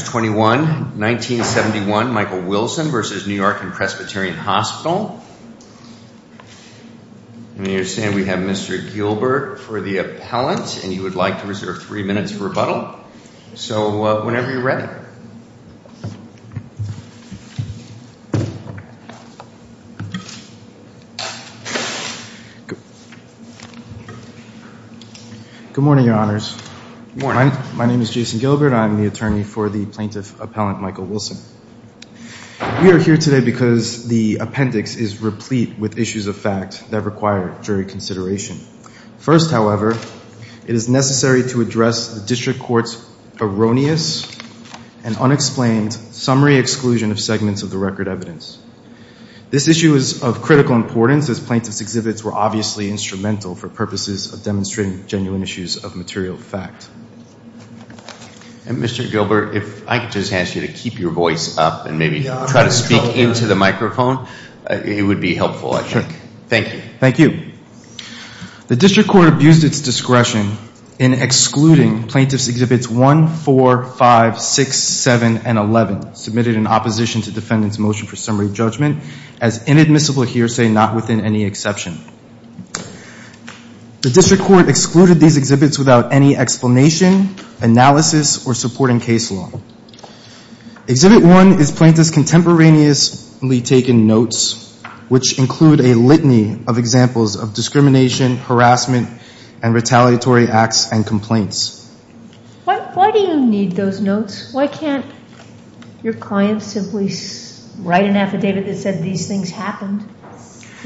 You're saying we have Mr. Gilbert for the appellant and you would like to reserve three minutes for rebuttal. So whenever you're ready. Good morning, your honors. My name is Jason Gilbert. I'm the attorney for the plaintiff appellant Michael Wilson. We are here today because the appendix is replete with issues of fact that require jury consideration. First, however, it is necessary to address the district court's erroneous and unexplained summary exclusion of segments of the record evidence. This issue is of critical importance as plaintiff's exhibits were obviously instrumental for purposes of keep your voice up and maybe try to speak into the microphone. It would be helpful, I think. Thank you. Thank you. The district court abused its discretion in excluding plaintiff's exhibits 1, 4, 5, 6, 7 and 11 submitted in opposition to defendant's motion for summary judgment as inadmissible hearsay not within any exception. The district court excluded these exhibits without any explanation, analysis or supporting case law. Exhibit 1 is plaintiff's contemporaneously taken notes which include a litany of examples of discrimination, harassment and retaliatory acts and complaints. Why do you need those notes? Why can't your client simply write an affidavit that said these things happened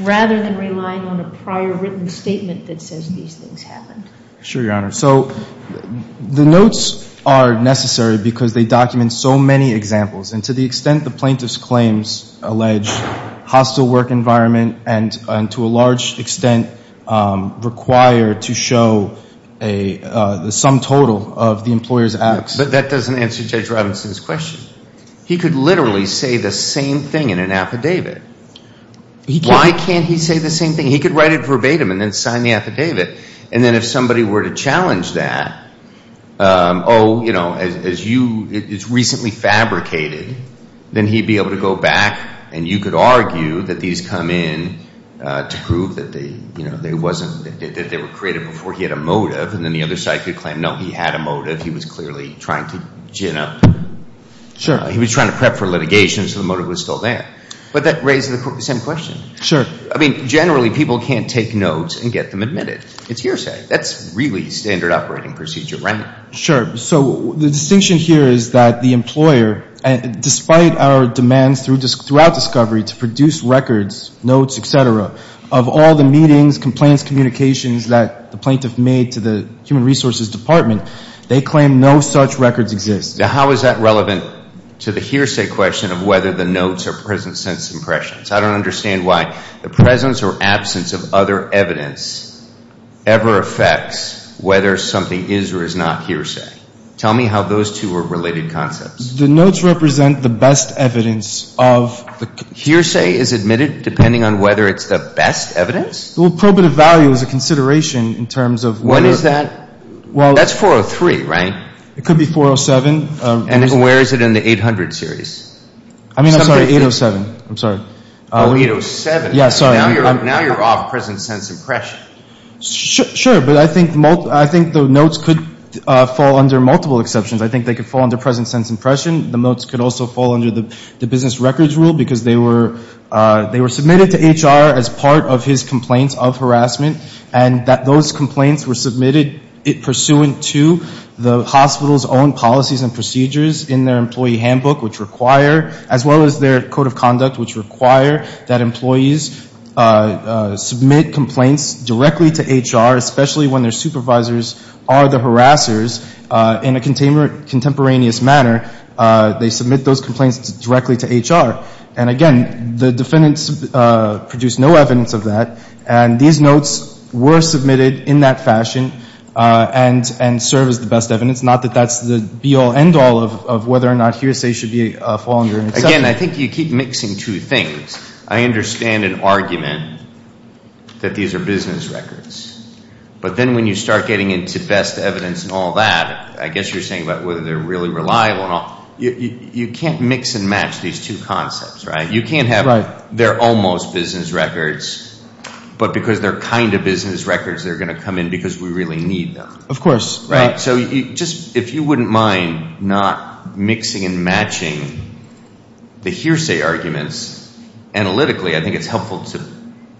rather than relying on a prior written statement that says these things happened? Sure, Your Honor. So the notes are necessary because they document so many examples and to the extent the plaintiff's claims allege hostile work environment and to a large extent require to show a sum total of the employer's acts. But that doesn't answer Judge Robinson's question. He could literally say the same thing in an affidavit. Why can't he say the same thing? He could write it verbatim and then sign the affidavit and then if somebody were to challenge that, oh, you know, it's recently fabricated, then he'd be able to go back and you could argue that these come in to prove that they were created before he had a motive and then the other side could argue that he was clearly trying to gin up. Sure. He was trying to prep for litigation so the motive was still there. But that raises the same question. Sure. I mean, generally people can't take notes and get them admitted. It's hearsay. That's really standard operating procedure, right? Sure. So the distinction here is that the employer, despite our demands throughout discovery to produce records, notes, et cetera, of all the meetings, complaints, communications that the plaintiff made to the Human Resources Department, they claim no such records exist. Now how is that relevant to the hearsay question of whether the notes are present since impressions? I don't understand why the presence or absence of other evidence ever affects whether something is or is not hearsay. Tell me how those two are related concepts. The notes represent the best evidence of... Hearsay is admitted depending on whether it's the best evidence? Well, probative value is a consideration in terms of... What is that? That's 403, right? It could be 407. And where is it in the 800 series? I mean, I'm sorry, 807. I'm sorry. Oh, 807. Yeah, sorry. Now you're off presence since impression. Sure. But I think the notes could fall under multiple exceptions. I think they could fall under presence since impression. The notes could also fall under the business records rule because they were submitted to HR as part of his complaints of harassment. And those complaints were submitted pursuant to the hospital's own policies and procedures in their employee handbook, which require, as well as their code of conduct, which require that employees submit complaints directly to HR, especially when their supervisors are the harassers in a contemporaneous manner. They submit those complaints directly to HR. And again, the defendants produced no evidence of that. And these notes were submitted in that fashion and serve as the best evidence. Not that that's the be-all, end-all of whether or not hearsay should be a fall under an exception. Again, I think you keep mixing two things. I understand an argument that these are business records. But then when you start getting into best evidence and all that, I guess you're saying about whether they're really reliable and all. You can't mix and match these two concepts, right? You can't have they're almost business records, but because they're kind of business records, they're going to come in because we really need them. So if you wouldn't mind not mixing and matching the hearsay arguments analytically, I think it's helpful to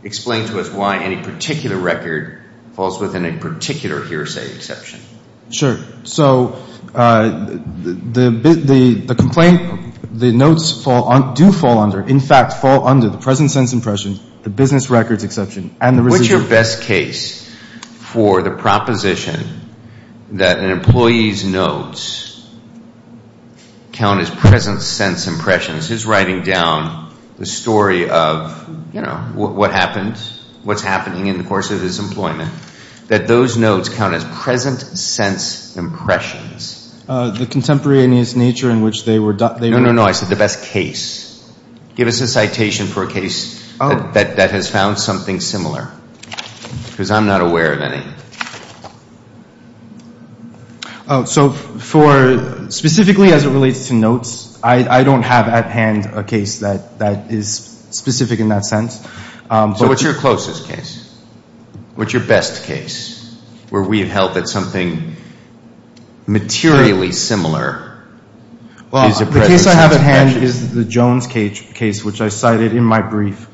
explain to us why any particular record falls within a particular hearsay exception. Sure. So the complaint, the notes do fall under. In fact, fall under the present sense impression, the business records exception. What's your best case for the proposition that an employee's notes count as present sense impressions? He's writing down the story of what happened, what's happening in the course of his employment, that those notes count as present sense impressions. The contemporaneous nature in which they were. No, no, no. I said the best case. Give us a citation for a case that has found something similar. Because I'm not aware of any. So for specifically as it relates to notes, I don't have at hand a case that is specific in that sense. So what's your closest case? What's your best case where we have held that something materially similar is a present sense impression? The case I have at hand is the Jones case, which I cited in my brief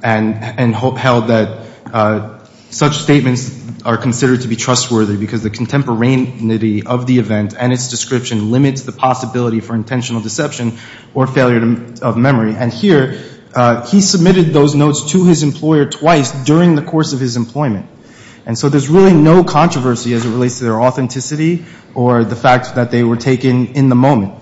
and held that such statements are considered to be trustworthy because the contemporaneity of the event and its description limits the possibility for intentional deception or failure of memory. And here, he submitted those notes to his employer twice during the course of his employment. And so there's really no controversy as it relates to their authenticity or the fact that they were taken in the moment.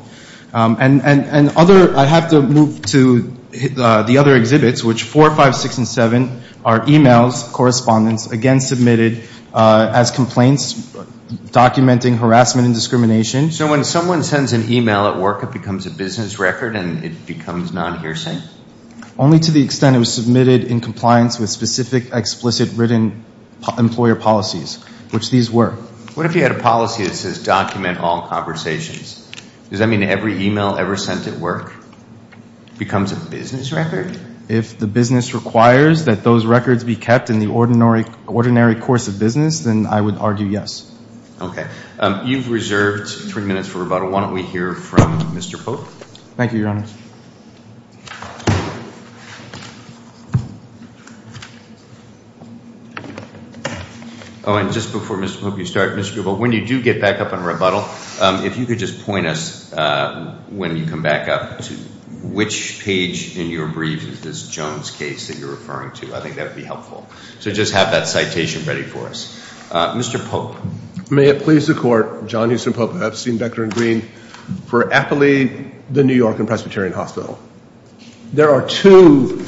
And other, I have to move to the other exhibits, which 4, 5, 6, and 7 are e-mails, correspondence, again submitted as complaints documenting harassment and discrimination. So when someone sends an e-mail at work, it becomes a business record and it becomes non-hearsay? Only to the extent it was submitted in compliance with specific explicit written employer policies, which these were. What if you had a policy that says document all conversations? Does that mean every e-mail ever sent at work becomes a business record? If the business requires that those records be kept in the ordinary course of business, then I would argue yes. Okay. You've reserved three minutes for rebuttal. Why don't we hear from Mr. Pope? Thank you, Your Honor. Oh, and just before, Mr. Pope, you start, Mr. Grubel, when you do get back up and rebuttal, if you could just point us when you come back up to which page in your brief is this Jones case that you're referring to. I think that would be helpful. So just have that citation ready for us. Mr. Pope. May it please the Court, John Huston Pope, Epstein, Beckner, and Green, for Appley, the New York and Presbyterian Hospital. There are two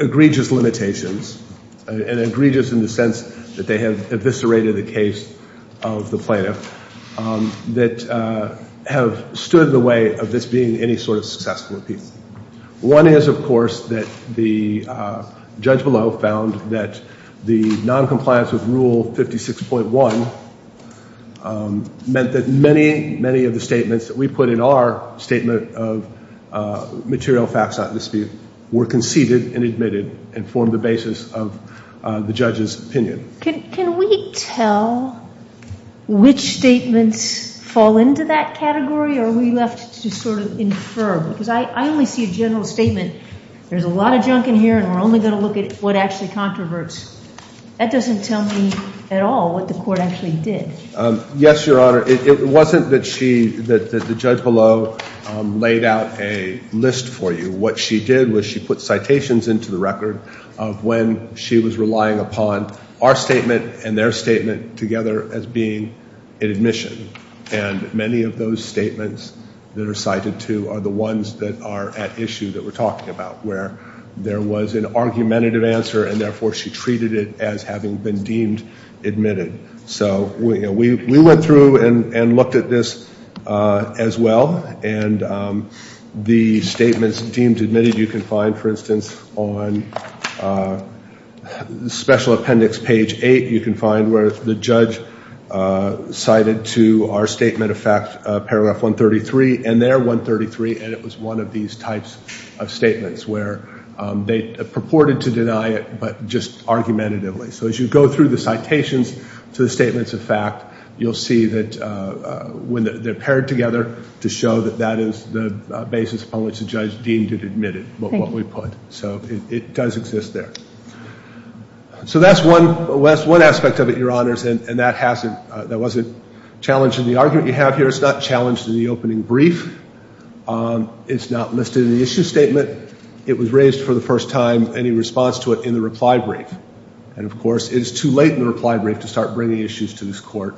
egregious limitations, and egregious in the sense that they have eviscerated the case of the plaintiff, that have stood in the way of this being any sort of successful appeal. One is, of course, that the noncompliance with Rule 56.1 meant that many, many of the statements that we put in our statement of material facts not in dispute were conceded and admitted and formed the basis of the judge's opinion. Can we tell which statements fall into that category, or are we left to sort of infer? Because I that doesn't tell me at all what the Court actually did. Yes, Your Honor. It wasn't that she, that the judge below laid out a list for you. What she did was she put citations into the record of when she was relying upon our statement and their statement together as being an admission. And many of those statements that are cited to are the ones that are at issue that we're talking about, where there was an argumentative answer and therefore she treated it as having been deemed admitted. So we went through and looked at this as well. And the statements deemed admitted you can find, for instance, on Special Appendix page 8, you can find where the judge cited to our statement of fact paragraph 133, and there 133, and it was one of these types of statements where they purported to deny it, but just argumentatively. So as you go through the citations to the statements of fact, you'll see that when they're paired together to show that that is the basis upon which the judge deemed it admitted, what we put. So it does exist there. So that's one aspect of it, Your Honors, and that wasn't challenged in the argument you have here. It's not challenged in the opening brief. It's not listed in the issue statement. It was raised for the first time, any response to it in the reply brief. And of course, it's too late in the reply brief to start bringing issues to this Court.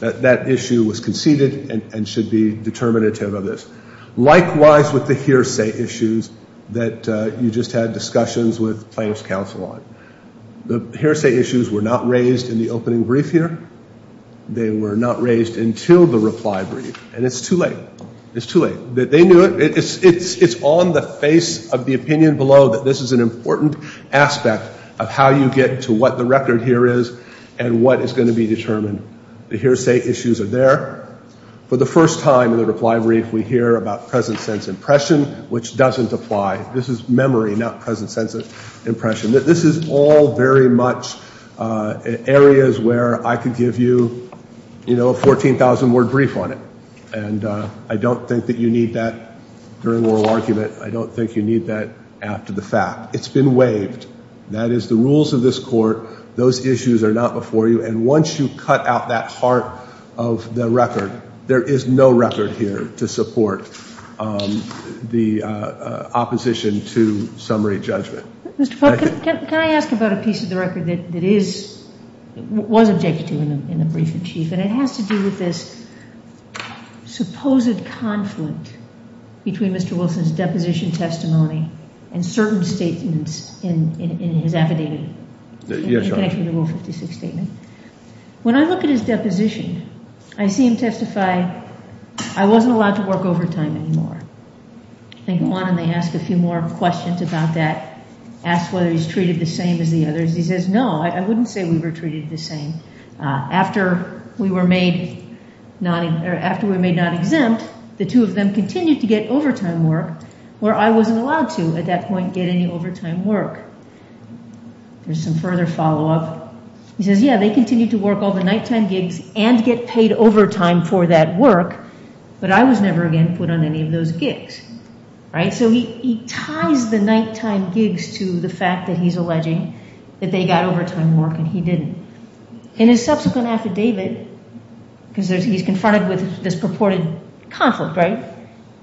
That issue was conceded and should be determinative of this. Likewise with the hearsay issues that you just had discussions with plaintiff's counsel on. The hearsay issues were not raised in the opening brief here. They were not raised until the reply brief, and it's too late. It's too late. They knew it. It's on the face of the opinion below that this is an important aspect of how you get to what the record here is and what is going to be determined. The hearsay issues are there. For the first time in the reply brief, we hear about present sense impression, which doesn't apply. This is memory, not present sense of impression. This is all very much areas where I could give you, you know, a 14,000-word brief on it. And I don't think that you need that during oral argument. I don't think you need that after the fact. It's been waived. That is the rules of this Court. Those issues are not before you. And once you cut out that heart of the record, there is no record here to support the opposition to summary judgment. Can I ask about a piece of the record that was objected to in the brief in chief? And it has to do with this supposed conflict between Mr. Wilson's deposition testimony and certain statements in his affidavit. When I look at his deposition, I see him testify, I wasn't allowed to work overtime anymore. They go on and they ask a few more questions about that, ask whether he's treated the same as the others. He says, no, I wouldn't say we were treated the same. After we were made not exempt, the two of them continued to get overtime work where I wasn't allowed to at that point get any overtime work. There's some further follow-up. He says, yeah, they continued to work all the nighttime gigs and get paid overtime for that work, but I was never again put on any of those gigs. So he ties the nighttime gigs to the fact that he's alleging that they got overtime work and he didn't. In his subsequent affidavit, because he's confronted with this purported conflict, right?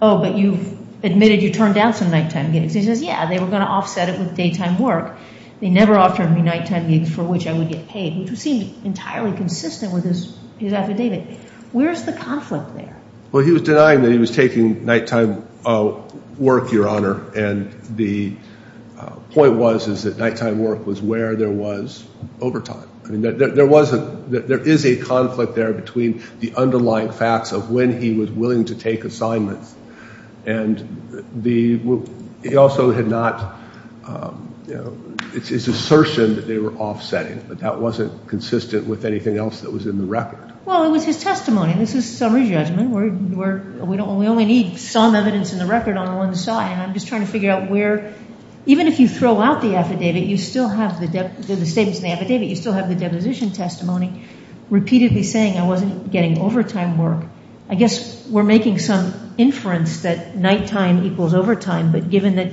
Oh, but you've admitted you turned down some nighttime gigs. He says, yeah, they were going to offset it with daytime work. They never offered me nighttime gigs for which I would get paid, which seemed entirely consistent with his affidavit. Where's the conflict there? Well, he was denying that he was taking nighttime work, Your Honor, and the point was that nighttime work was where there was overtime. There is a conflict there between the underlying facts of when he was willing to take assignments and he also had not It's his assertion that they were offsetting, but that wasn't consistent with anything else that was in the record. Well, it was his testimony. This is summary judgment. We only need some evidence in the record on the one side and I'm just trying to figure out where, even if you throw out the affidavit, you still have the deposition testimony repeatedly saying I wasn't getting overtime work. I guess we're making some inference that nighttime equals overtime, but given that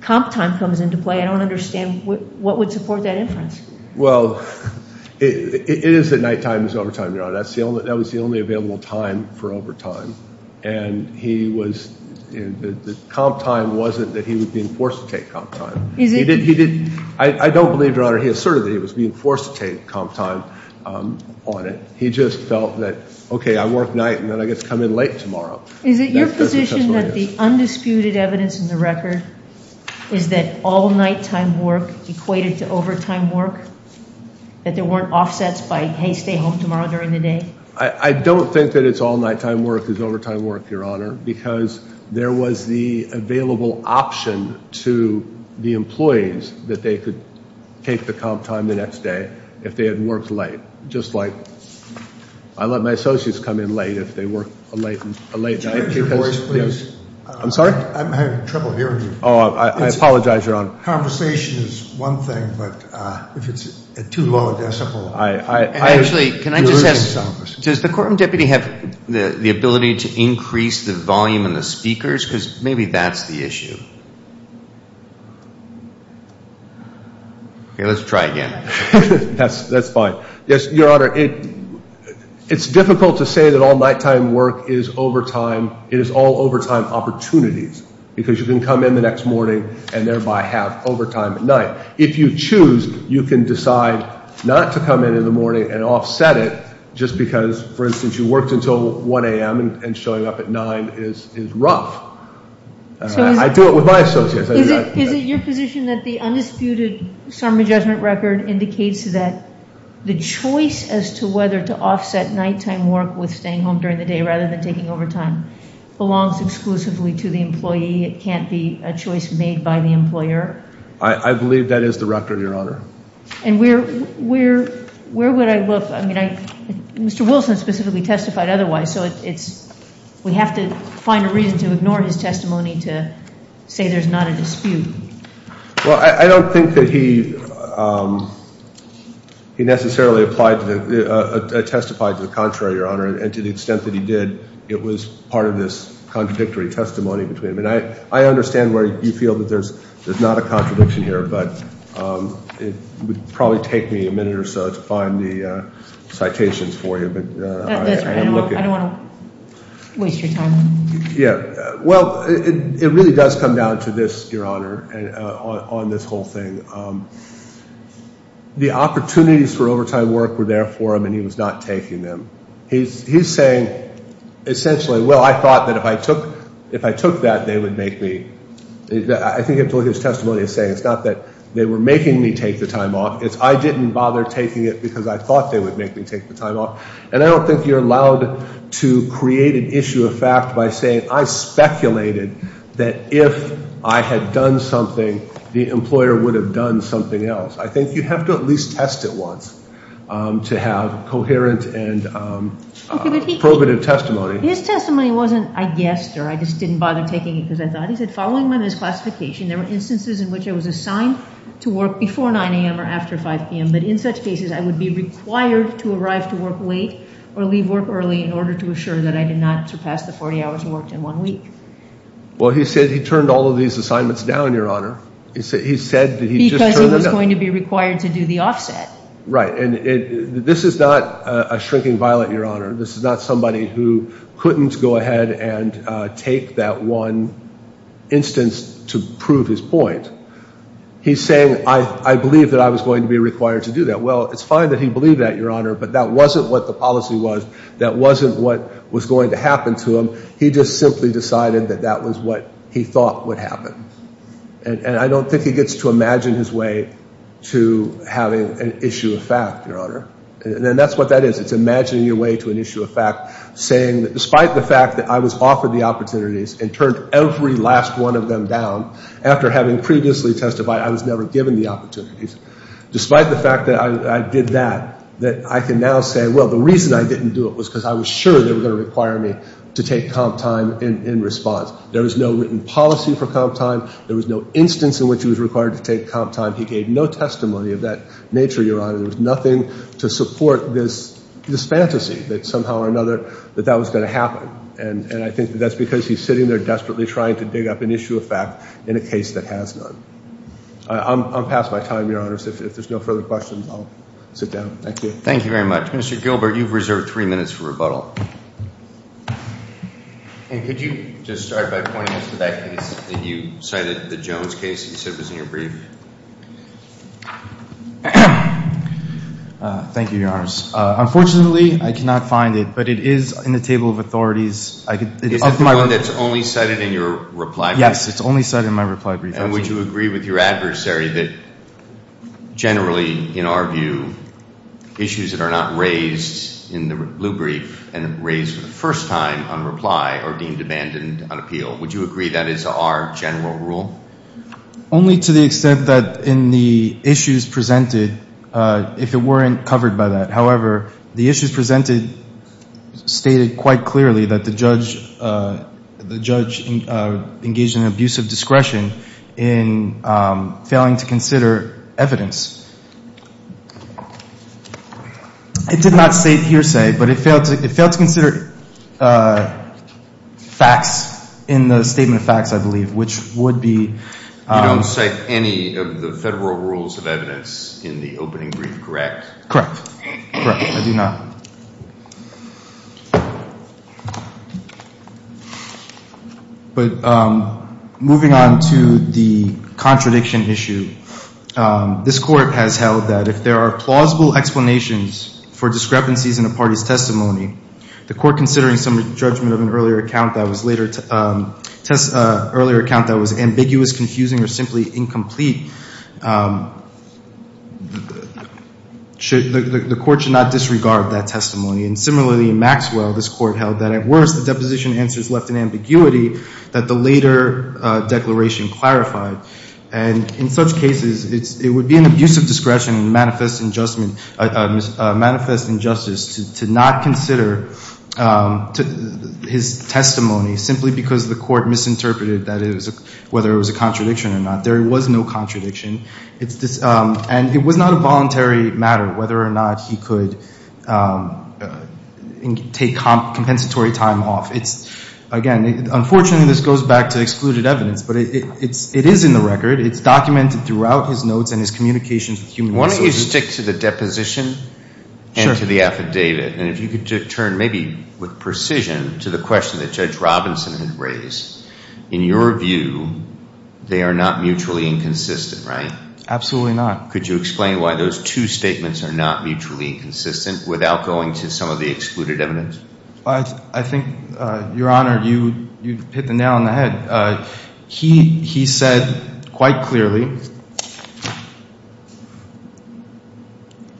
comp time comes into play, I don't understand what would support that inference. Well, it is that nighttime is overtime, Your Honor. That was the only available time for overtime and he was the comp time wasn't that he was being forced to take comp time. I don't believe, Your Honor, he asserted that he was being forced to take comp time on it. He just felt that, okay, I work night and then I get to come in late tomorrow. Is it your position that the undisputed evidence in the record is that all nighttime work equated to overtime work? That there weren't offsets by, hey, stay home tomorrow during the day? I don't think that it's all nighttime work is overtime work, Your Honor, because there was the available option to the employees that they could take the comp time the next day if they had worked late, just like I let my associates come in late if they work a late night. I'm sorry? I'm having trouble hearing you. I apologize, Your Honor. Conversation is one thing, but if it's at too low a decibel, does the courtroom deputy have the ability to increase the volume in the speakers? Because maybe that's the issue. Okay, let's try again. That's fine. Yes, Your Honor, it's difficult to say that all nighttime work is overtime. It is all overtime opportunities because you can come in the next morning and thereby have overtime at night. If you choose, you can decide not to come in in the morning and offset it just because, for instance, you worked until 1 a.m. and showing up at 9 is rough. I do it with my associates. Is it your position that the undisputed summary judgment record indicates that the choice as to whether to offset nighttime work with staying home during the day rather than taking overtime belongs exclusively to the employee? It can't be a choice made by the employer? I believe that is the record, Your Honor. And where would I look? Mr. Wilson specifically testified otherwise, so we have to find a reason to ignore his testimony to say there's not a dispute. Well, I don't think that he necessarily testified to the contrary, Your Honor, and to the extent that he did, it was part of this contradictory testimony. I understand where you feel that there's not a contradiction here, but it would probably take me a minute or so to find the citations for you. I don't want to waste your time. Well, it really does come down to this, Your Honor, on this whole thing. The opportunities for overtime work were there for him, and he was not taking them. He's saying, essentially, well, I thought that if I took that, they would make me. I think that's what his testimony is saying. It's not that they were making me take the time off. It's I didn't bother taking it because I thought they would make me take the time off. And I don't think you're allowed to create an issue of fact by saying I speculated that if I had done something, the employer would have done something else. I think you have to at least test it once to have coherent and probative testimony. His testimony wasn't I guessed or I just didn't bother taking it because I thought. He said, following my misclassification, there were instances in which I was late or leave work early in order to assure that I did not surpass the 40 hours worked in one week. Well, he said he turned all of these assignments down, Your Honor. He said he said that he was going to be required to do the offset. Right. And this is not a shrinking violet, Your Honor. This is not somebody who couldn't go ahead and take that one instance to prove his point. He's saying I believe that I was going to be required to do that. Well, it's fine that he believed that, Your Honor. But that wasn't what the policy was. That wasn't what was going to happen to him. He just simply decided that that was what he thought would happen. And I don't think he gets to imagine his way to having an issue of fact, Your Honor. And that's what that is. It's imagining your way to an issue of fact, saying that despite the fact that I was never given the opportunity, despite the fact that I did that, that I can now say, well, the reason I didn't do it was because I was sure they were going to require me to take comp time in response. There was no written policy for comp time. There was no instance in which he was required to take comp time. He gave no testimony of that nature, Your Honor. There was nothing to support this fantasy that somehow or another that that was going to happen. And I think that that's because he's sitting there holding a record of that situation. I'm past my time, Your Honor. If there's no further questions, I'll sit down. Thank you. Thank you very much. Mr. Gilbert, you've reserved three minutes for rebuttal. Could you just start by pointing us to that case that you cited, the Jones case he said was in your brief? Thank you, Your Honors. Unfortunately, I cannot find it. But it is in the table of authorities. It's only cited in your reply brief? Yes, it's only cited in my reply brief. And would you agree with your adversary that generally, in our view, issues that are not raised in the blue brief and raised for the first time on reply are deemed abandoned on appeal? Would you agree that is our general rule? Only to the extent that in the issues presented, if it weren't covered by that. However, the issues presented stated quite clearly that the judge engaged in abusive discretion in failing to consider evidence. It did not state hearsay, but it failed to consider facts in the statement of facts, I believe, which would be. You don't cite any of the federal rules of evidence in the opening brief, correct? Correct. I do not. But moving on to the contradiction issue. This court has held that if there are plausible explanations for discrepancies in a party's testimony, the court considering some judgment of an earlier account that was later. The court should not disregard that testimony. And similarly, in Maxwell, this court held that at worst, the deposition answer is left in ambiguity that the later declaration clarified. And in such cases, it would be an abusive discretion in manifest injustice to not consider his testimony simply because the court misinterpreted whether it was a contradiction or not. There was no contradiction. And it was not a voluntary matter whether or not he could take compensatory time off. Again, unfortunately, this goes back to excluded evidence, but it is in the record. It's documented throughout his notes and his communications with human resources. Can we stick to the deposition and to the affidavit? And if you could turn maybe with precision to the question that Judge Robinson had raised. In your view, they are not mutually inconsistent, right? Absolutely not. Could you explain why those two statements are not mutually inconsistent without going to some of the excluded evidence? I think, Your Honor, you hit the nail on the head. He said quite clearly,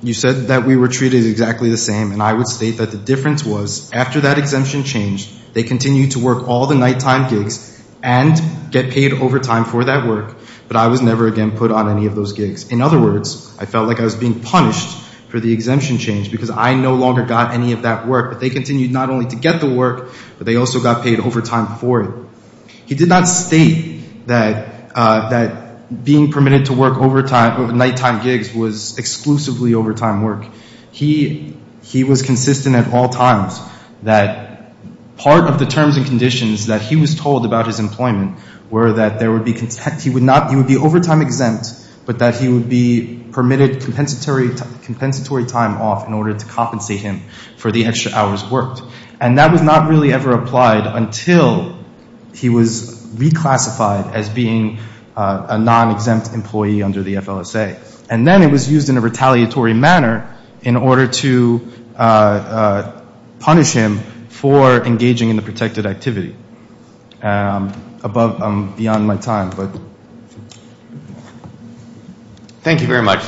you said that we were treated exactly the same. And I would state that the difference was after that exemption changed, they continued to work all the nighttime gigs and get paid overtime for that work, but I was never again put on any of those gigs. In other words, I felt like I was being punished for the exemption change because I no longer got any of that work. But they continued not only to get the work, but they also got paid overtime for it. He did not state that being permitted to work nighttime gigs was exclusively overtime work. He was consistent at all times that part of the terms and conditions that he was told about his employment were that he would be overtime exempt, but that he would be permitted compensatory time off in order to compensate him for the extra hours worked. And that was not really ever applied until he was reclassified as being a non-exempt employee under the FLSA. And then it was used in a retaliatory manner in order to punish him for engaging in the protected activity. Beyond my time. Thank you very much.